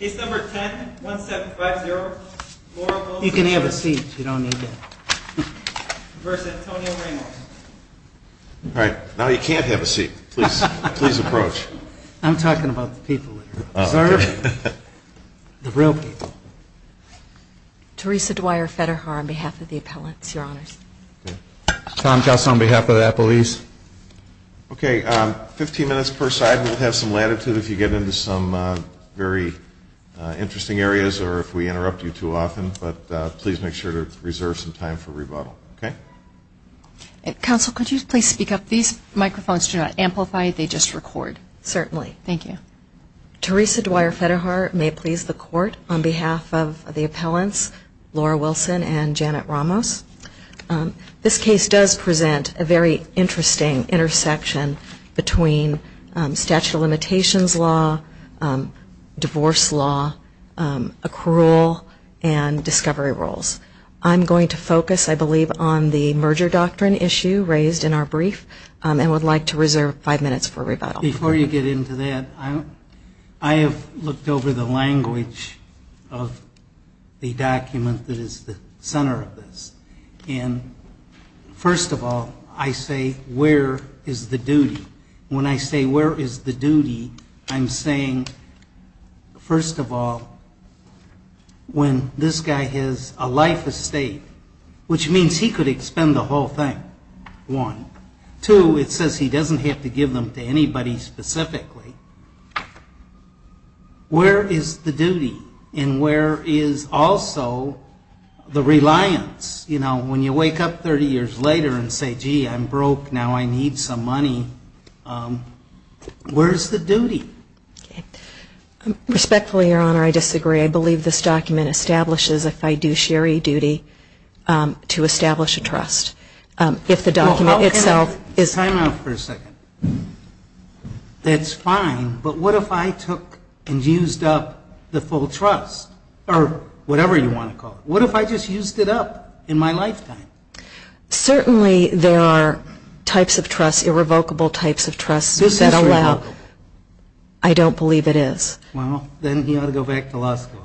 You can have a seat, you don't need that, versus Antonio Ramos. All right, now you can't have a seat. Please, please approach. I'm talking about the people here. The real people. Teresa Dwyer Federer on behalf of the appellants, your honors. Tom Kaus on behalf of the appellees. Okay, 15 minutes per side. We'll have some latitude if you get into some very interesting areas or if we interrupt you too often, but please make sure to reserve some time for rebuttal. Okay? Counsel, could you please speak up? These microphones do not amplify, they just record. Certainly. Thank you. Teresa Dwyer Federer may please the court on behalf of the appellants, Laura Wilson and Janet Ramos. This case does present a very interesting intersection between statute of limitations law, divorce law, accrual and discovery rules. I'm going to focus, I believe, on the merger doctrine issue raised in our brief and would like to reserve five minutes for rebuttal. Before you get into that, I have looked over the language of the document that is the center of this. And first of all, I say where is the duty? When I say where is the duty, I'm saying, first of all, when this guy has a life estate, which means he could expend the whole thing, one. Two, it says he doesn't have to give them to anybody specifically. Where is the duty? And where is also the reliance? You know, when you wake up 30 years later and say, gee, I'm broke, now I need some money, where's the duty? Respectfully, Your Honor, I disagree. I believe this document establishes a fiduciary duty to establish a trust. If the document itself is... Time out for a second. That's fine, but what if I took and used up the full trust? Or whatever you want to call it. What if I just used it up in my lifetime? Certainly there are types of trusts, irrevocable types of trusts that allow... This is irrevocable. I don't believe it is. Well, then you ought to go back to law school.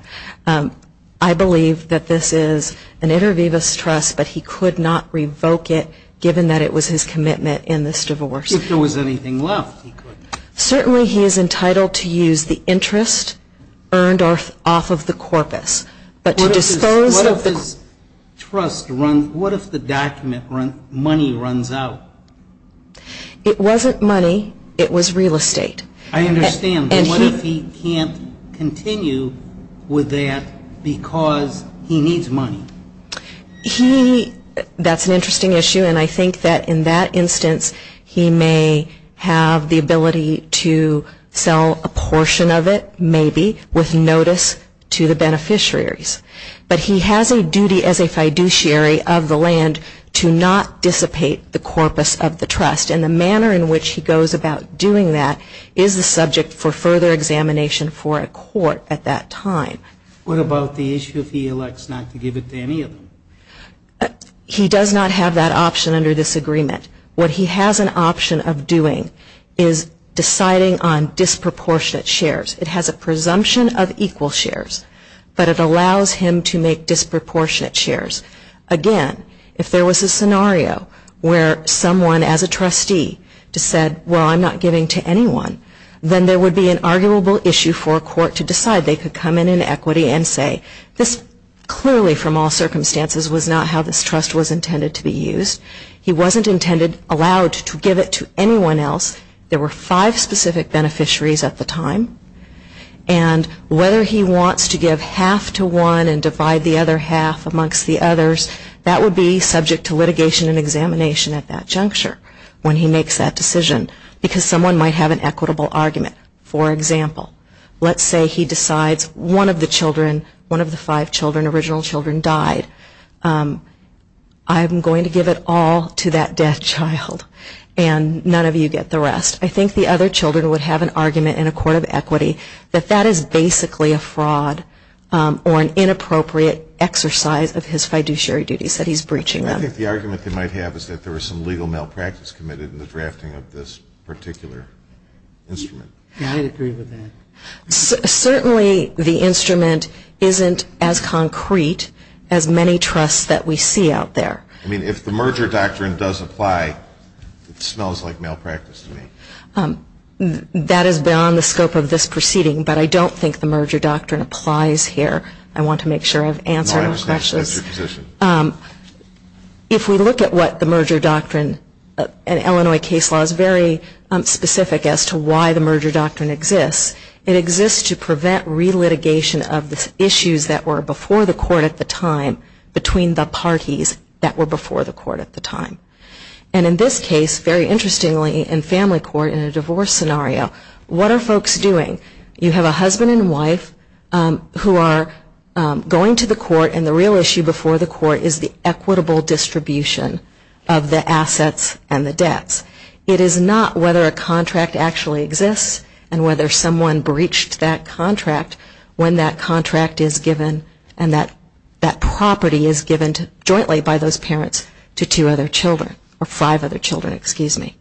I believe that this is an inter vivis trust, but he could not revoke it, given that it was his commitment in this divorce. If there was anything left, he could. Certainly he is entitled to use the interest earned off of the corpus, but to dispose of the... What if his trust runs... What if the document money runs out? It wasn't money. It was real estate. I understand. What if he can't continue with that because he needs money? That's an interesting issue, and I think that in that instance, he may have the ability to sell a portion of it, maybe, with notice to the beneficiaries. But he has a duty as a fiduciary of the land to not dissipate the corpus of the trust, and the manner in which he goes about doing that is the subject for further examination for a court at that time. What about the issue if he elects not to give it to any of them? He does not have that option under this agreement. What he has an option of doing is deciding on disproportionate shares. It has a presumption of equal shares, but it allows him to make disproportionate shares. Again, if there was a scenario where someone as a trustee said, well, I'm not giving to anyone, then there would be an arguable issue for a court to decide. They could come in in equity and say, this clearly from all circumstances was not how this trust was intended to be used. He wasn't allowed to give it to anyone else. There were five specific beneficiaries at the time. And whether he wants to give half to one and divide the other half amongst the others, that would be subject to litigation and examination at that juncture when he makes that decision, because someone might have an equitable argument. For example, let's say he decides one of the children, one of the five children, original children died. I'm going to give it all to that dead child, and none of you get the rest. I think the other children would have an argument in a court of equity that that is basically a fraud or an inappropriate exercise of his fiduciary duties that he's breaching them. I think the argument they might have is that there was some legal malpractice committed in the drafting of this particular instrument. I would agree with that. Certainly the instrument isn't as concrete as many trusts that we see out there. I mean, if the merger doctrine does apply, it smells like malpractice to me. That is beyond the scope of this proceeding, but I don't think the merger doctrine applies here. I want to make sure I've answered all questions. No, I understand. That's your position. If we look at what the merger doctrine in Illinois case law is very specific as to why the merger doctrine exists, it exists to prevent relitigation of the issues that were before the court at the time between the parties that were before the court at the time. And in this case, very interestingly, in family court in a divorce scenario, what are folks doing? You have a husband and wife who are going to the court, and the real issue before the court is the equitable distribution of the assets and the debts. It is not whether a contract actually exists and whether someone breached that contract when that contract is given and that property is given jointly by those parents to two other children, or five other children, excuse me.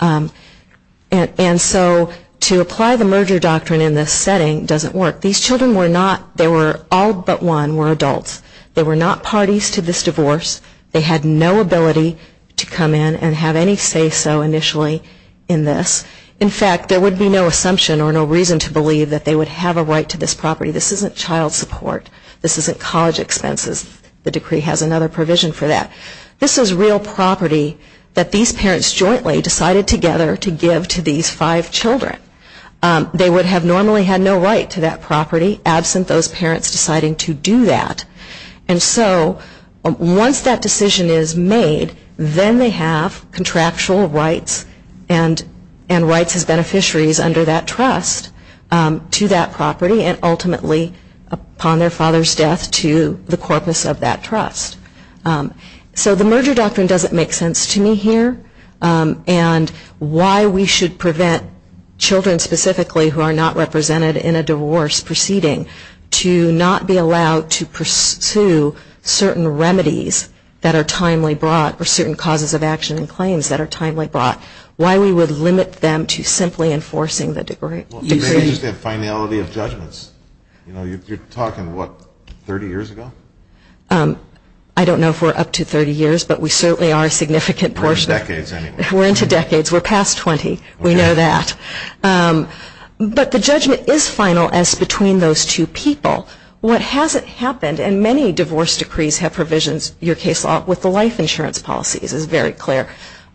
And so to apply the merger doctrine in this setting doesn't work. These children were not, they were all but one, were adults. They were not parties to this divorce. They had no ability to come in and have any say so initially in this. In fact, there would be no assumption or no reason to believe that they would have a right to this property. This isn't child support. This isn't college expenses. The decree has another provision for that. This is real property that these parents jointly decided together to give to these five children. They would have normally had no right to that property absent those parents deciding to do that. And so once that decision is made, then they have contractual rights and rights as beneficiaries under that trust to that property and ultimately upon their father's death to the corpus of that trust. So the merger doctrine doesn't make sense to me here, and why we should prevent children specifically who are not represented in a divorce proceeding to not be forced to certain remedies that are timely brought or certain causes of action and claims that are timely brought. Why we would limit them to simply enforcing the decree. Well, maybe it's the finality of judgments. You know, you're talking what, 30 years ago? I don't know if we're up to 30 years, but we certainly are a significant portion. We're in decades anyway. We're into decades. We're past 20. We know that. But the judgment is final as between those two people. What hasn't happened, and many divorce decrees have provisions, your case law, with the life insurance policies is very clear.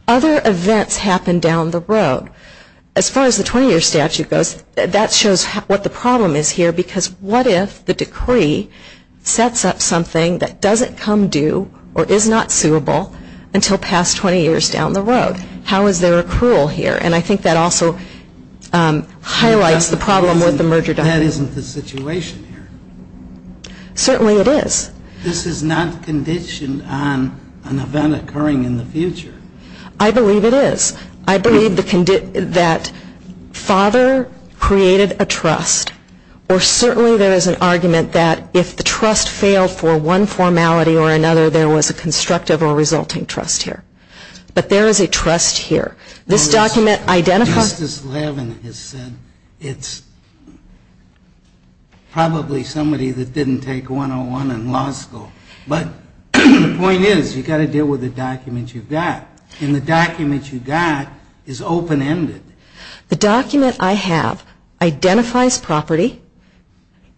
Other events happen down the road. As far as the 20-year statute goes, that shows what the problem is here because what if the decree sets up something that doesn't come due or is not suable until past 20 years down the road? How is there accrual here? And I think that also highlights the problem with the merger doctrine. That isn't the situation here. Certainly it is. This is not conditioned on an event occurring in the future. I believe it is. I believe that father created a trust, or certainly there is an argument that if the trust failed for one formality or another, there was a constructive or resulting trust here. But there is a trust here. This document identifies Justice Levin has said it's probably somebody that didn't take 101 in law school. But the point is you've got to deal with the documents you've got. And the document you've got is open-ended. The document I have identifies property.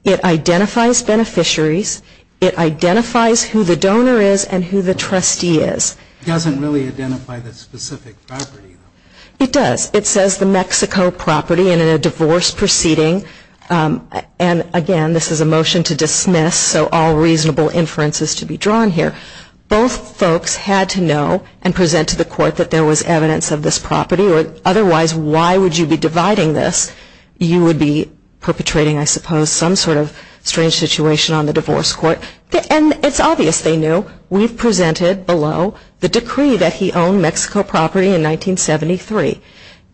It identifies beneficiaries. It identifies who the donor is and who the trustee is. It doesn't really identify the specific property. It does. It says the Mexico property in a divorce proceeding. And, again, this is a motion to dismiss, so all reasonable inferences to be drawn here. Both folks had to know and present to the court that there was evidence of this property. Otherwise, why would you be dividing this? You would be perpetrating, I suppose, some sort of strange situation on the divorce court. And it's obvious they knew. We've presented below the decree that he owned Mexico property in 1973.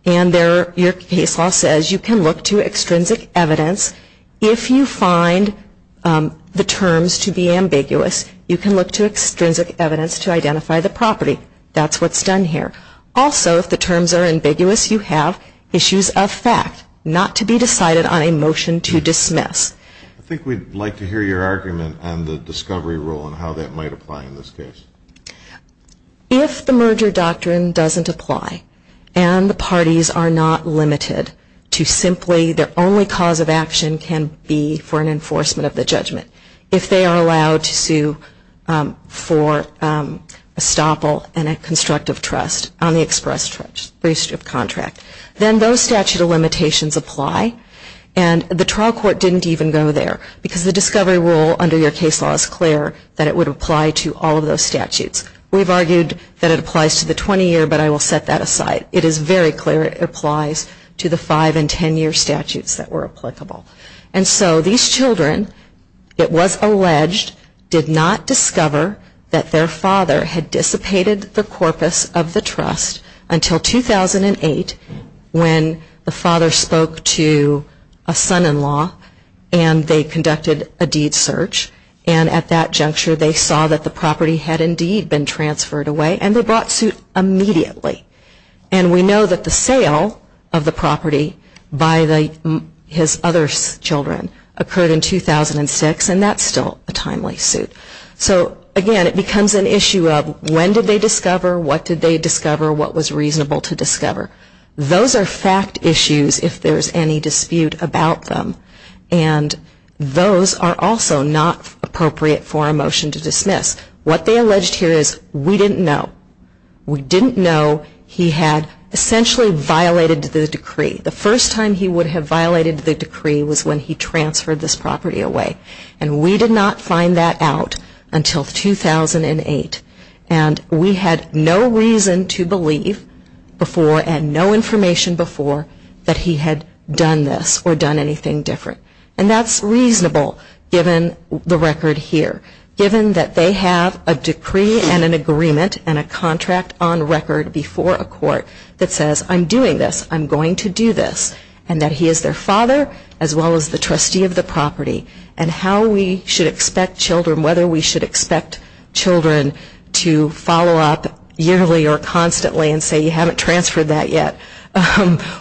And your case law says you can look to extrinsic evidence. If you find the terms to be ambiguous, you can look to extrinsic evidence to identify the property. That's what's done here. Also, if the terms are ambiguous, you have issues of fact not to be decided on a motion to dismiss. I think we'd like to hear your argument on the discovery rule and how that might apply in this case. If the merger doctrine doesn't apply and the parties are not limited to simply their only cause of action can be for an enforcement of the judgment, if they are allowed to sue for estoppel and a constructive trust on the express breach of contract, then those statute of limitations apply. And the trial court didn't even go there. Because the discovery rule under your case law is clear that it would apply to all of those statutes. We've argued that it applies to the 20-year, but I will set that aside. It is very clear it applies to the 5- and 10-year statutes that were applicable. And so these children, it was alleged, did not discover that their father had dissipated the corpus of the trust until 2008 when the father spoke to a son-in-law and they conducted a deed search. And at that juncture, they saw that the property had indeed been transferred away. And they brought suit immediately. And we know that the sale of the property by his other children occurred in 2006. And that's still a timely suit. So, again, it becomes an issue of when did they discover, what did they discover, what was reasonable to discover. Those are fact issues if there's any dispute about them. And those are also not appropriate for a motion to dismiss. What they alleged here is we didn't know. We didn't know he had essentially violated the decree. The first time he would have violated the decree was when he transferred this property away. And we did not find that out until 2008. And we had no reason to believe before and no information before that he had done this or done anything different. And that's reasonable given the record here. Given that they have a decree and an agreement and a contract on record before a court that says, I'm doing this, I'm going to do this, and that he is their father as well as the trustee of the property and how we should expect children, whether we should expect children to follow up yearly or constantly and say you haven't transferred that yet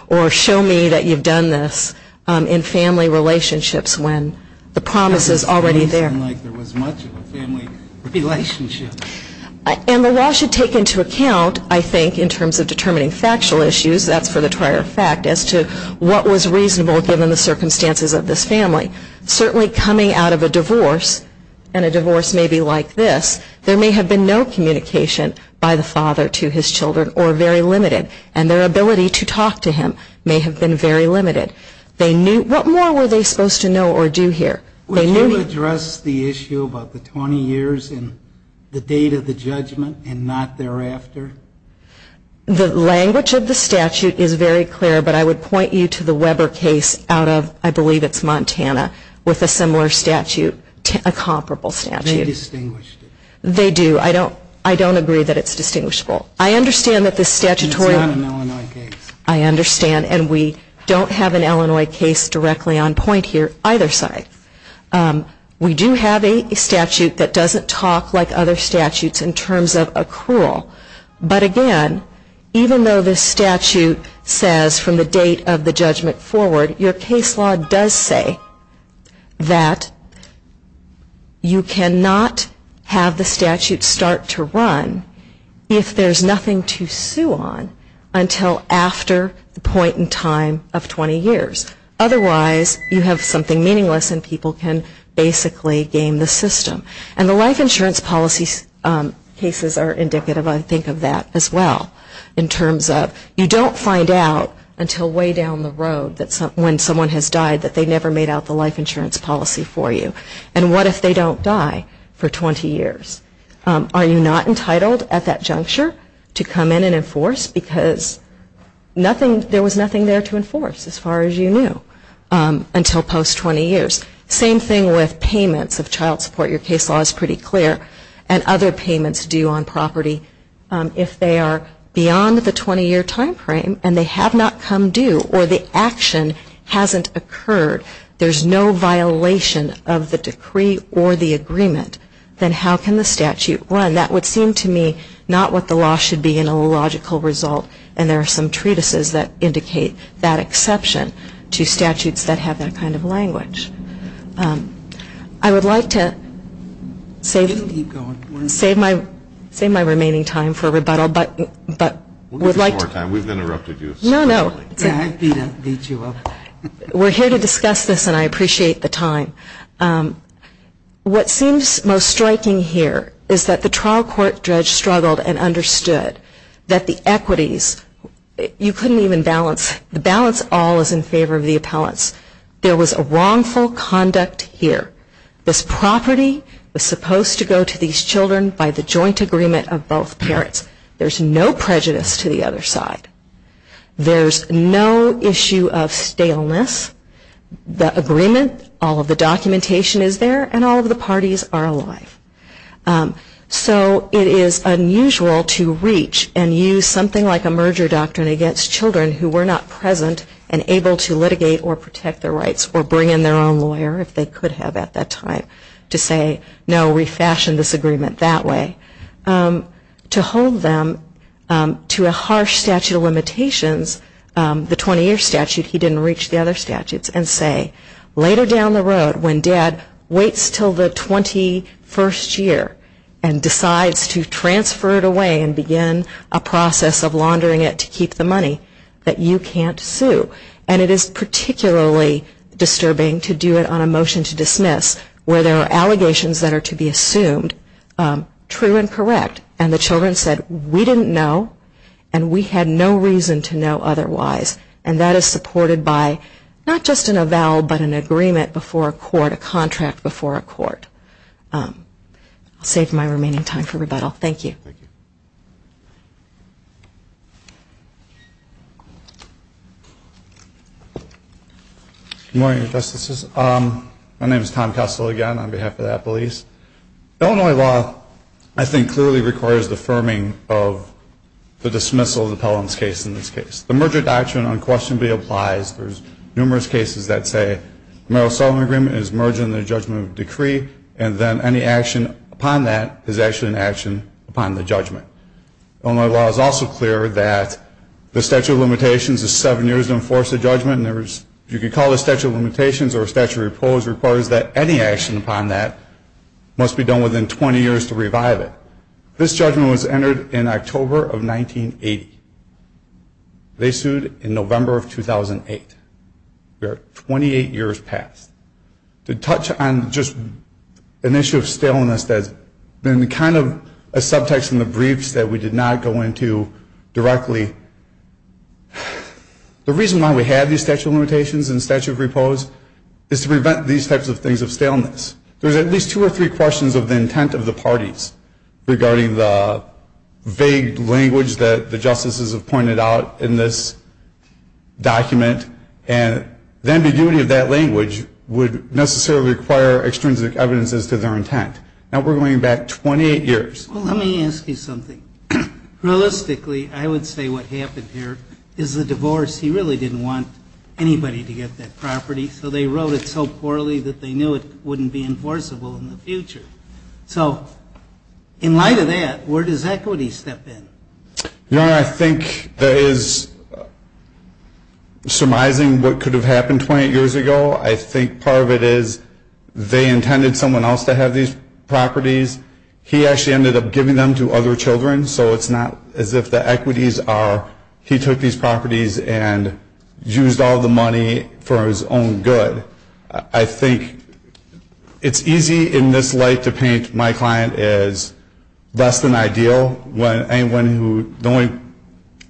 or show me that you've done this in family relationships when the promise is already there. It doesn't seem like there was much of a family relationship. And the law should take into account, I think, in terms of determining factual issues, that's for the prior fact, as to what was reasonable given the circumstances of this family. Certainly coming out of a divorce, and a divorce may be like this, there may have been no communication by the father to his children or very limited. And their ability to talk to him may have been very limited. What more were they supposed to know or do here? Would you address the issue about the 20 years and the date of the judgment and not thereafter? The language of the statute is very clear, but I would point you to the Weber case out of, I believe it's Montana, with a similar statute, a comparable statute. They distinguished it. They do. I don't agree that it's distinguishable. I understand that the statutory... It's not an Illinois case. I understand, and we don't have an Illinois case directly on point here either side. We do have a statute that doesn't talk like other statutes in terms of accrual. But again, even though the statute says from the date of the judgment forward, your case law does say that you cannot have the statute start to run if there's nothing to sue on until after the point in time of 20 years. Otherwise, you have something meaningless and people can basically game the system. And the life insurance policy cases are indicative, I think, of that as well, in terms of you don't find out until way down the road when someone has died that they never made out the life insurance policy for you. And what if they don't die for 20 years? Are you not entitled at that juncture to come in and enforce? Because there was nothing there to enforce, as far as you knew, until post-20 years. Same thing with payments of child support. Your case law is pretty clear. And other payments due on property, if they are beyond the 20-year time frame and they have not come due or the action hasn't occurred, there's no violation of the decree or the agreement, then how can the statute run? And that would seem to me not what the law should be in a logical result. And there are some treatises that indicate that exception to statutes that have that kind of language. I would like to save my remaining time for rebuttal, but would like to... We'll give you more time. We've interrupted you. No, no. We're here to discuss this, and I appreciate the time. What seems most striking here is that the trial court judge struggled and understood that the equities, you couldn't even balance, the balance all is in favor of the appellants. There was a wrongful conduct here. This property was supposed to go to these children by the joint agreement of both parents. There's no prejudice to the other side. There's no issue of staleness. The agreement, all of the documentation is there, and all of the parties are alive. So it is unusual to reach and use something like a merger doctrine against children who were not present and able to litigate or protect their rights or bring in their own lawyer, if they could have at that time, to say, no, refashion this agreement that way. To hold them to a harsh statute of limitations, the 20-year statute, he didn't reach the other statutes, and say, later down the road, when dad waits until the 21st year and decides to transfer it away and begin a process of laundering it to keep the money, that you can't sue. And it is particularly disturbing to do it on a motion to dismiss, where there are allegations that are to be assumed true and correct. And the children said, we didn't know, and we had no reason to know otherwise. And that is supported by not just an avowal, but an agreement before a court, a contract before a court. I'll save my remaining time for rebuttal. Thank you. Good morning, Justices. My name is Tom Kessel, again, on behalf of Apple East. Illinois law, I think, clearly requires the affirming of the dismissal of the Pelham's case in this case. The merger doctrine unquestionably applies. There's numerous cases that say the Merrill-Sullivan agreement is merged in the judgment of decree, and then any action upon that is actually an action upon the law. Illinois law is also clear that the statute of limitations is seven years to enforce the judgment, and there is, you could call it a statute of limitations or a statute of repose, requires that any action upon that must be done within 20 years to revive it. This judgment was entered in October of 1980. They sued in November of 2008. We are 28 years past. To touch on just an issue of staleness that's been kind of a subtext in the briefs that we did not go into directly, the reason why we have these statute of limitations and statute of repose is to prevent these types of things of staleness. There's at least two or three questions of the intent of the parties regarding the vague language that the justices have pointed out in this document, and the ambiguity of that language would necessarily require extrinsic evidence as to their intent. Now, we're going back 28 years. Well, let me ask you something. Realistically, I would say what happened here is the divorce. He really didn't want anybody to get that property, so they wrote it so poorly that they knew it wouldn't be enforceable in the future. So in light of that, where does equity step in? Your Honor, I think there is, surmising what could have happened 28 years ago, I think part of it is they intended someone else to have these properties. He actually ended up giving them to other children, so it's not as if the equities are he took these properties and used all the money for his own good. I think it's easy in this light to paint my client as less than ideal. The only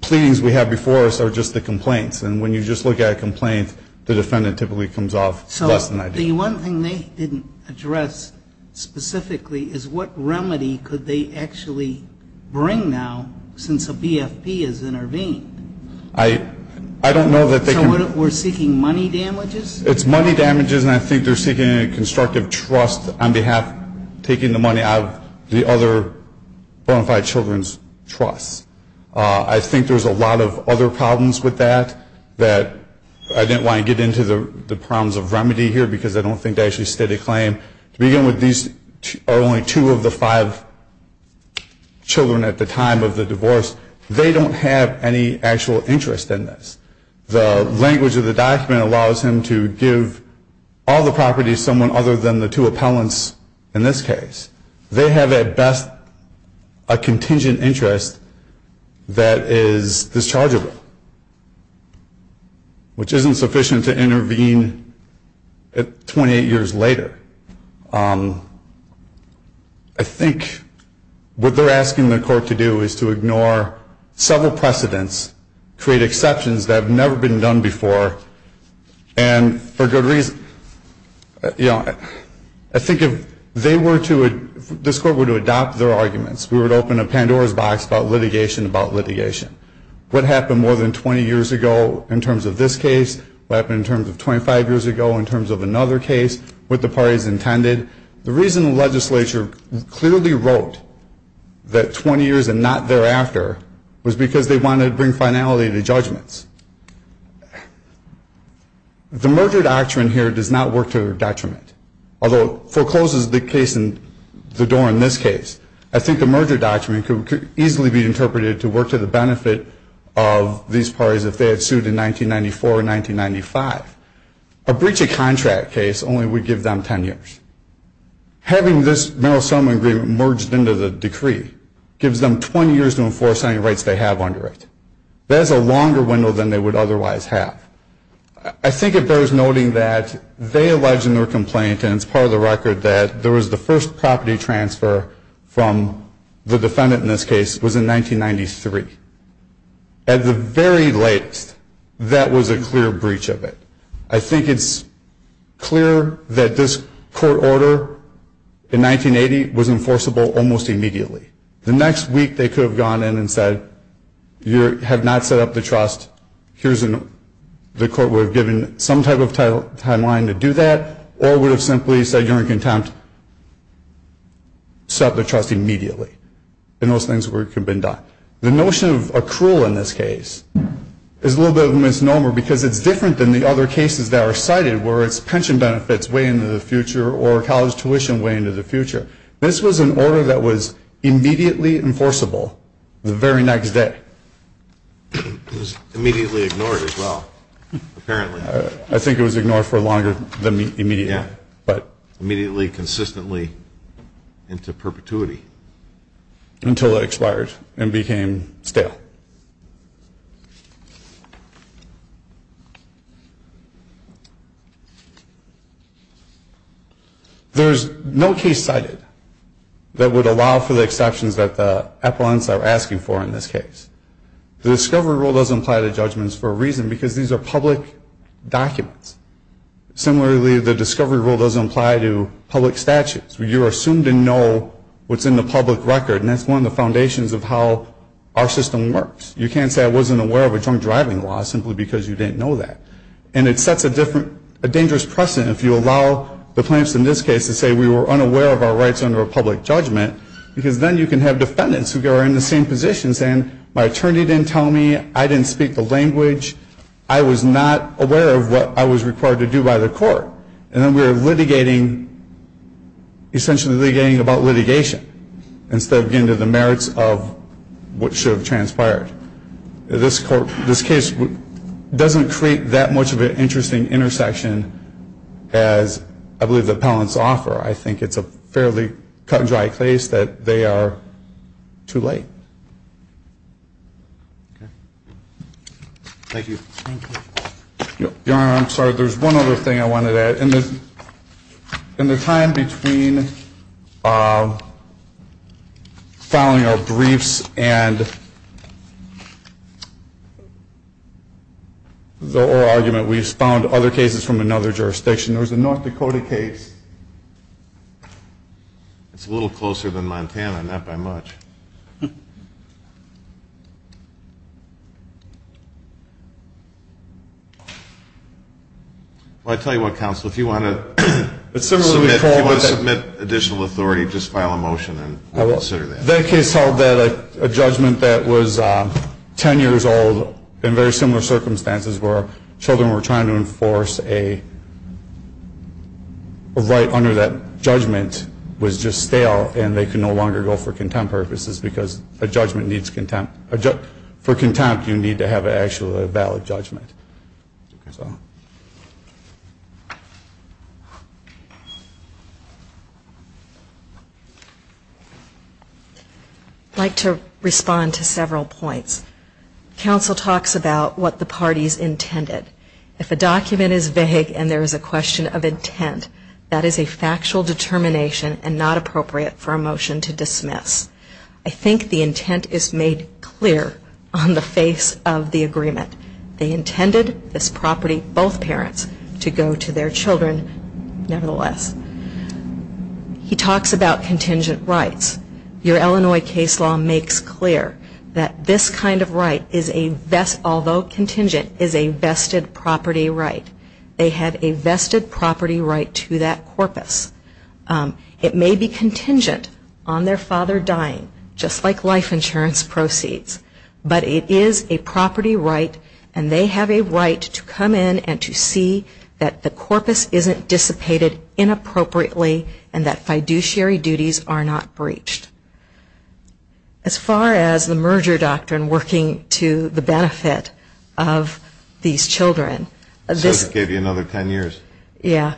pleadings we have before us are just the complaints, and when you just look at a complaint, the defendant typically comes off less than ideal. So the one thing they didn't address specifically is what remedy could they actually bring now since a BFP has intervened? I don't know that they could. Your Honor, we're seeking money damages? It's money damages, and I think they're seeking a constructive trust on behalf, taking the money out of the other bona fide children's trusts. I think there's a lot of other problems with that that I didn't want to get into the problems of remedy here because I don't think they actually stated a claim. To begin with, these are only two of the five children at the time of the divorce. They don't have any actual interest in this. The language of the document allows him to give all the properties to someone other than the two appellants in this case. They have at best a contingent interest that is dischargeable, which isn't sufficient to intervene 28 years later. I think what they're asking the court to do is to ignore several precedents, create exceptions that have never been done before, and for good reason. You know, I think if they were to, if this court were to adopt their arguments, we would open a Pandora's box about litigation about litigation. What happened more than 20 years ago in terms of this case? What happened in terms of 25 years ago in terms of another case? What the parties intended? The reason the legislature clearly wrote that 20 years and not thereafter was because they wanted to bring finality to judgments. The merger doctrine here does not work to their detriment, although it forecloses the case and the door in this case. I think the merger doctrine could easily be interpreted to work to the benefit of these parties if they had sued in 1994 or 1995. A breach of contract case only would give them 10 years. Having this mental asylum agreement merged into the decree gives them 20 years to enforce any rights they have under it. That is a longer window than they would otherwise have. I think it bears noting that they alleged in their complaint, and it's part of the record that there was the first property transfer from the defendant in this case was in 1993. At the very latest, that was a clear breach of it. I think it's clear that this court order in 1980 was enforceable almost immediately. The next week they could have gone in and said, you have not set up the trust. The court would have given some type of timeline to do that or would have simply said you're in contempt, set up the trust immediately. And those things could have been done. The notion of accrual in this case is a little bit of a misnomer because it's different than the other cases that are cited where it's pension benefits way into the future or college tuition way into the future. This was an order that was immediately enforceable the very next day. It was immediately ignored as well, apparently. I think it was ignored for longer than immediately. Immediately, consistently, into perpetuity. Until it expired and became stale. There's no case cited that would allow for the exceptions that the appellants are asking for in this case. The discovery rule doesn't apply to judgments for a reason because these are public documents. Similarly, the discovery rule doesn't apply to public statutes. You're assumed to know what's in the public record and that's one of the foundations of how our system works. You can't say I wasn't aware of a drunk driving law simply because you didn't know that. And it sets a dangerous precedent if you allow the plaintiffs in this case to say we were unaware of our rights under a public judgment because then you can have defendants who are in the same position saying my attorney didn't tell me, I didn't speak the language, I was not aware of what I was required to do by the court. And then we are litigating, essentially litigating about litigation instead of getting to the merits of what should have transpired. This case doesn't create that much of an interesting intersection as I believe the appellants offer. I think it's a fairly cut and dry case that they are too late. Thank you. Your Honor, I'm sorry. There's one other thing I wanted to add. In the time between filing our briefs and the oral argument, we found other cases from another jurisdiction. There was a North Dakota case. It's a little closer than Montana, not by much. I'll tell you what, counsel. If you want to submit additional authority, just file a motion and consider that. That case held that a judgment that was 10 years old in very similar circumstances where children were trying to enforce a right under that judgment was just stale and they could no longer go for contempt purposes because a judgment needs contempt. For contempt, you need to have actually a valid judgment. I'd like to respond to several points. Counsel talks about what the parties intended. If a document is vague and there is a question of intent, that is a factual determination and not appropriate for a motion to dismiss. I think the intent is made clear on the face of the agreement. They intended this property, both parents, to go to their children nevertheless. He talks about contingent rights. Your Illinois case law makes clear that this kind of right is a, although contingent, is a vested property right. They have a vested property right to that corpus. It may be contingent on their father dying, just like life insurance proceeds, but it is a property right and they have a right to come in and to see that the corpus isn't dissipated inappropriately and that fiduciary duties are not breached. As far as the merger doctrine working to the benefit of these children. Says it gave you another 10 years. Yeah.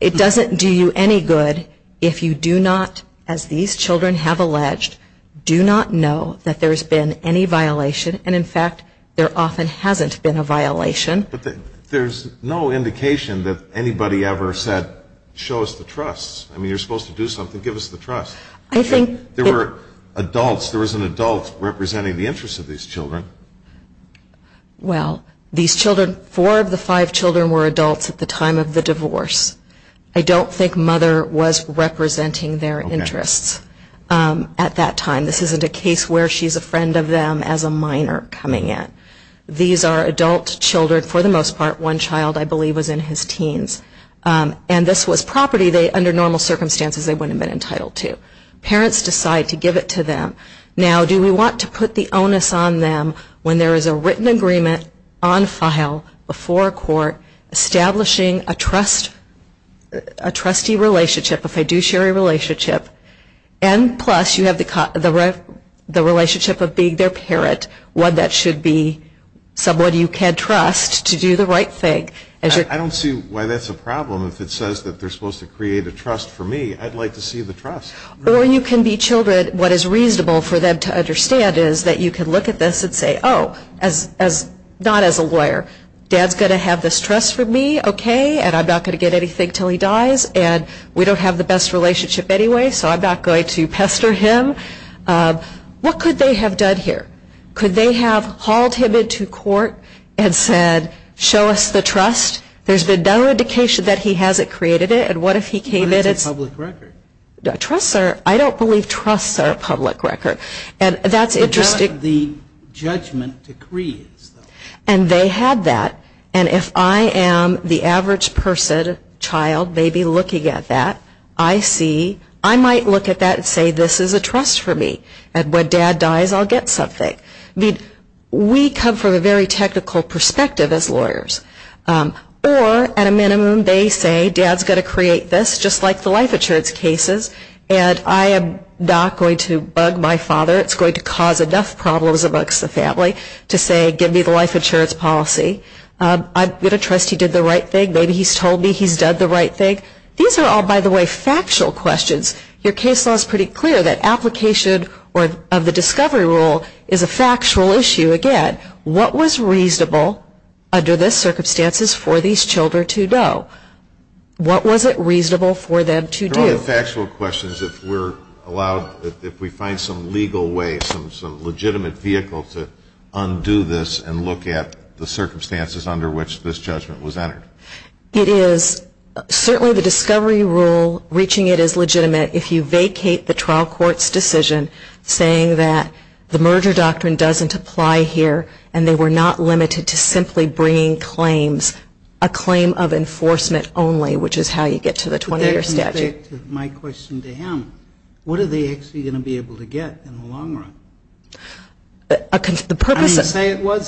It doesn't do you any good if you do not, as these children have alleged, do not know that there's been any violation and, in fact, there often hasn't been a violation. But there's no indication that anybody ever said, show us the trust. I mean, you're supposed to do something, give us the trust. There were adults, there was an adult representing the interests of these children. Well, these children, four of the five children were adults at the time of the divorce. I don't think mother was representing their interests at that time. This isn't a case where she's a friend of them as a minor coming in. These are adult children, for the most part. One child, I believe, was in his teens. And this was property they, under normal circumstances, they wouldn't have been entitled to. Parents decide to give it to them. Now, do we want to put the onus on them when there is a written agreement on file before a court establishing a trustee relationship, a fiduciary relationship, and plus you have the relationship of being their parent, one that should be someone you can trust to do the right thing. I don't see why that's a problem. If it says that they're supposed to create a trust for me, I'd like to see the trust. Or you can be children, what is reasonable for them to understand is that you can look at this and say, oh, not as a lawyer, dad's going to have this trust for me, okay, and I'm not going to get anything until he dies, and we don't have the best relationship anyway, so I'm not going to pester him. What could they have done here? Could they have hauled him into court and said, show us the trust? There's been no indication that he hasn't created it, and what if he came in and it's a public record? I don't believe trusts are a public record, and that's interesting. What about the judgment decree? And they had that, and if I am the average person, child, maybe looking at that, I see, I might look at that and say this is a trust for me, and when dad dies I'll get something. Or, at a minimum, they say dad's going to create this, just like the life insurance cases, and I am not going to bug my father. It's going to cause enough problems amongst the family to say give me the life insurance policy. I'm going to trust he did the right thing. Maybe he's told me he's done the right thing. These are all, by the way, factual questions. Your case law is pretty clear that application of the discovery rule is a factual issue. Again, what was reasonable under these circumstances for these children to know? What was it reasonable for them to do? They're all factual questions if we're allowed, if we find some legal way, some legitimate vehicle to undo this and look at the circumstances under which this judgment was entered. It is certainly the discovery rule, reaching it is legitimate if you vacate the trial court's decision saying that the merger doctrine doesn't apply here, and they were not limited to simply bringing claims, a claim of enforcement only, which is how you get to the 20-year statute. My question to him, what are they actually going to be able to get in the long run? I didn't say it was.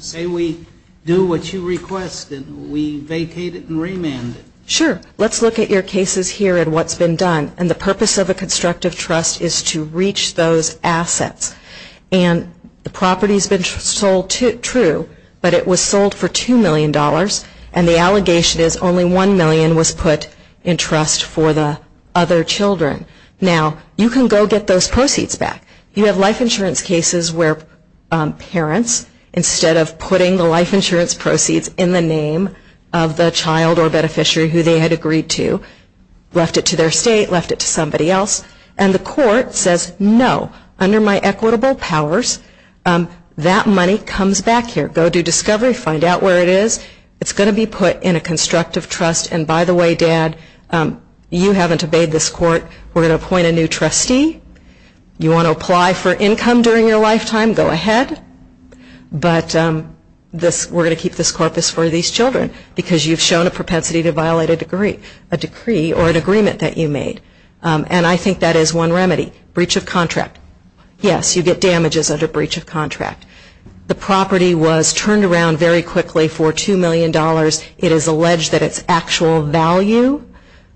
Say we do what you request and we vacate it and remand it. Sure. Let's look at your cases here and what's been done. And the purpose of a constructive trust is to reach those assets. And the property has been sold, true, but it was sold for $2 million, and the allegation is only $1 million was put in trust for the other children. Now, you can go get those proceeds back. You have life insurance cases where parents, instead of putting the life insurance proceeds in the name of the child or beneficiary who they had agreed to, left it to their state, left it to somebody else. And the court says, no, under my equitable powers, that money comes back here. Go do discovery, find out where it is. It's going to be put in a constructive trust. And by the way, Dad, you haven't obeyed this court. We're going to appoint a new trustee. You want to apply for income during your lifetime, go ahead. But we're going to keep this corpus for these children because you've shown a propensity to violate a decree or an agreement that you made. And I think that is one remedy. Breach of contract. Yes, you get damages under breach of contract. The property was turned around very quickly for $2 million. It is alleged that its actual value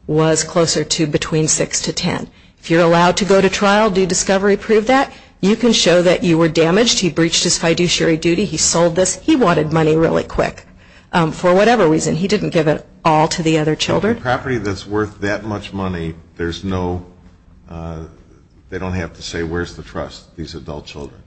was closer to between 6 to 10. If you're allowed to go to trial, do discovery prove that? You can show that you were damaged. He breached his fiduciary duty. He sold this. He wanted money really quick. For whatever reason, he didn't give it all to the other children. So the property that's worth that much money, there's no, they don't have to say where's the trust, these adult children.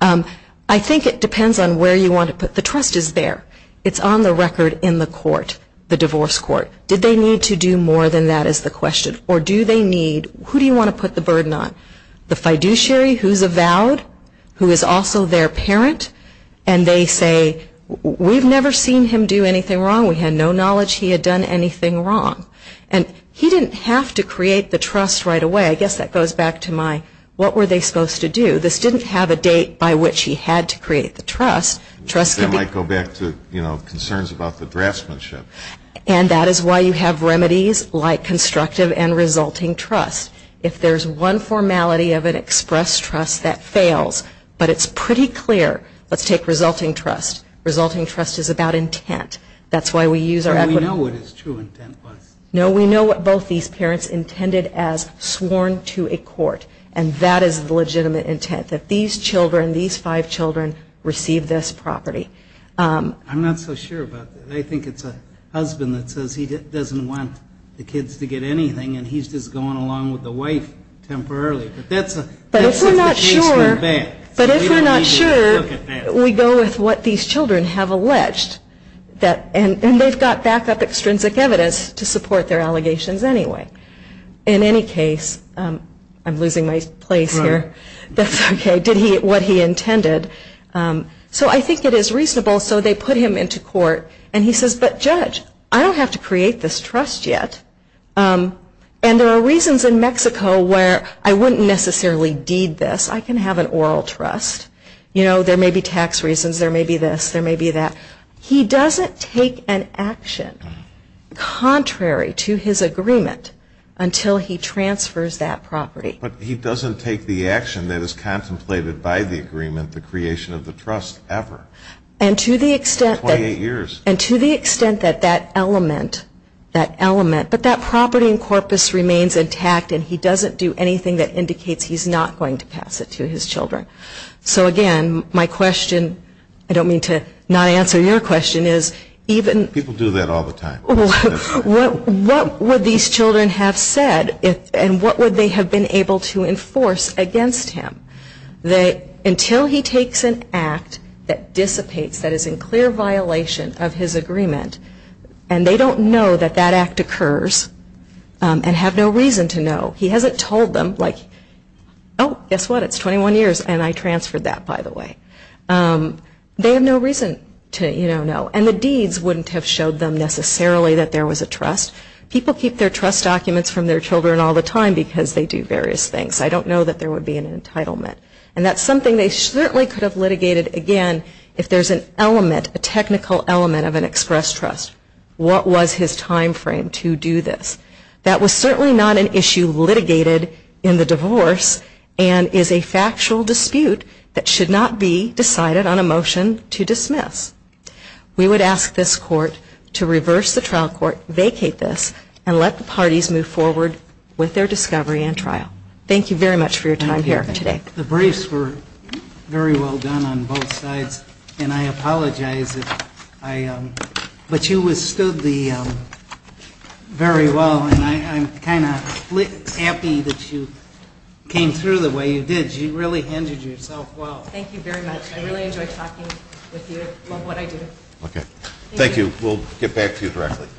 I think it depends on where you want to put. The trust is there. It's on the record in the court, the divorce court. Did they need to do more than that is the question. Or do they need, who do you want to put the burden on? The fiduciary who's avowed, who is also their parent, and they say, we've never seen him do anything wrong. We had no knowledge he had done anything wrong. And he didn't have to create the trust right away. I guess that goes back to my, what were they supposed to do? This didn't have a date by which he had to create the trust. They might go back to, you know, concerns about the draftsmanship. And that is why you have remedies like constructive and resulting trust. If there's one formality of an expressed trust that fails, but it's pretty clear. Let's take resulting trust. Resulting trust is about intent. That's why we use our equity. We know what his true intent was. No, we know what both these parents intended as sworn to a court. And that is the legitimate intent, that these children, these five children receive this property. I'm not so sure about that. I think it's a husband that says he doesn't want the kids to get anything, and he's just going along with the wife temporarily. But if we're not sure, we go with what these children have alleged. And they've got back-up extrinsic evidence to support their allegations anyway. In any case, I'm losing my place here. That's okay. Did he get what he intended? So I think it is reasonable. So they put him into court. And he says, but Judge, I don't have to create this trust yet. And there are reasons in Mexico where I wouldn't necessarily deed this. I can have an oral trust. You know, there may be tax reasons. There may be this. There may be that. He doesn't take an action contrary to his agreement until he transfers that property. But he doesn't take the action that is contemplated by the agreement, the creation of the trust, ever. In 28 years. And to the extent that that element, that element, but that property in corpus remains intact and he doesn't do anything that indicates he's not going to pass it to his children. So, again, my question, I don't mean to not answer your question, is even. People do that all the time. What would these children have said and what would they have been able to enforce against him? Until he takes an act that dissipates, that is in clear violation of his agreement and they don't know that that act occurs and have no reason to know. He hasn't told them, like, oh, guess what? It's 21 years and I transferred that, by the way. They have no reason to, you know, know. And the deeds wouldn't have showed them necessarily that there was a trust. People keep their trust documents from their children all the time because they do various things. I don't know that there would be an entitlement. And that's something they certainly could have litigated, again, if there's an element, a technical element of an express trust. What was his time frame to do this? That was certainly not an issue litigated in the divorce and is a factual dispute that should not be decided on a motion to dismiss. We would ask this court to reverse the trial court, vacate this, and let the parties move forward with their discovery and trial. Thank you very much for your time here today. The briefs were very well done on both sides, and I apologize if I, but you withstood the, very well, and I'm kind of happy that you came through the way you did. You really handed yourself well. Thank you very much. I really enjoyed talking with you. Love what I do. Okay. Thank you. We'll get back to you directly.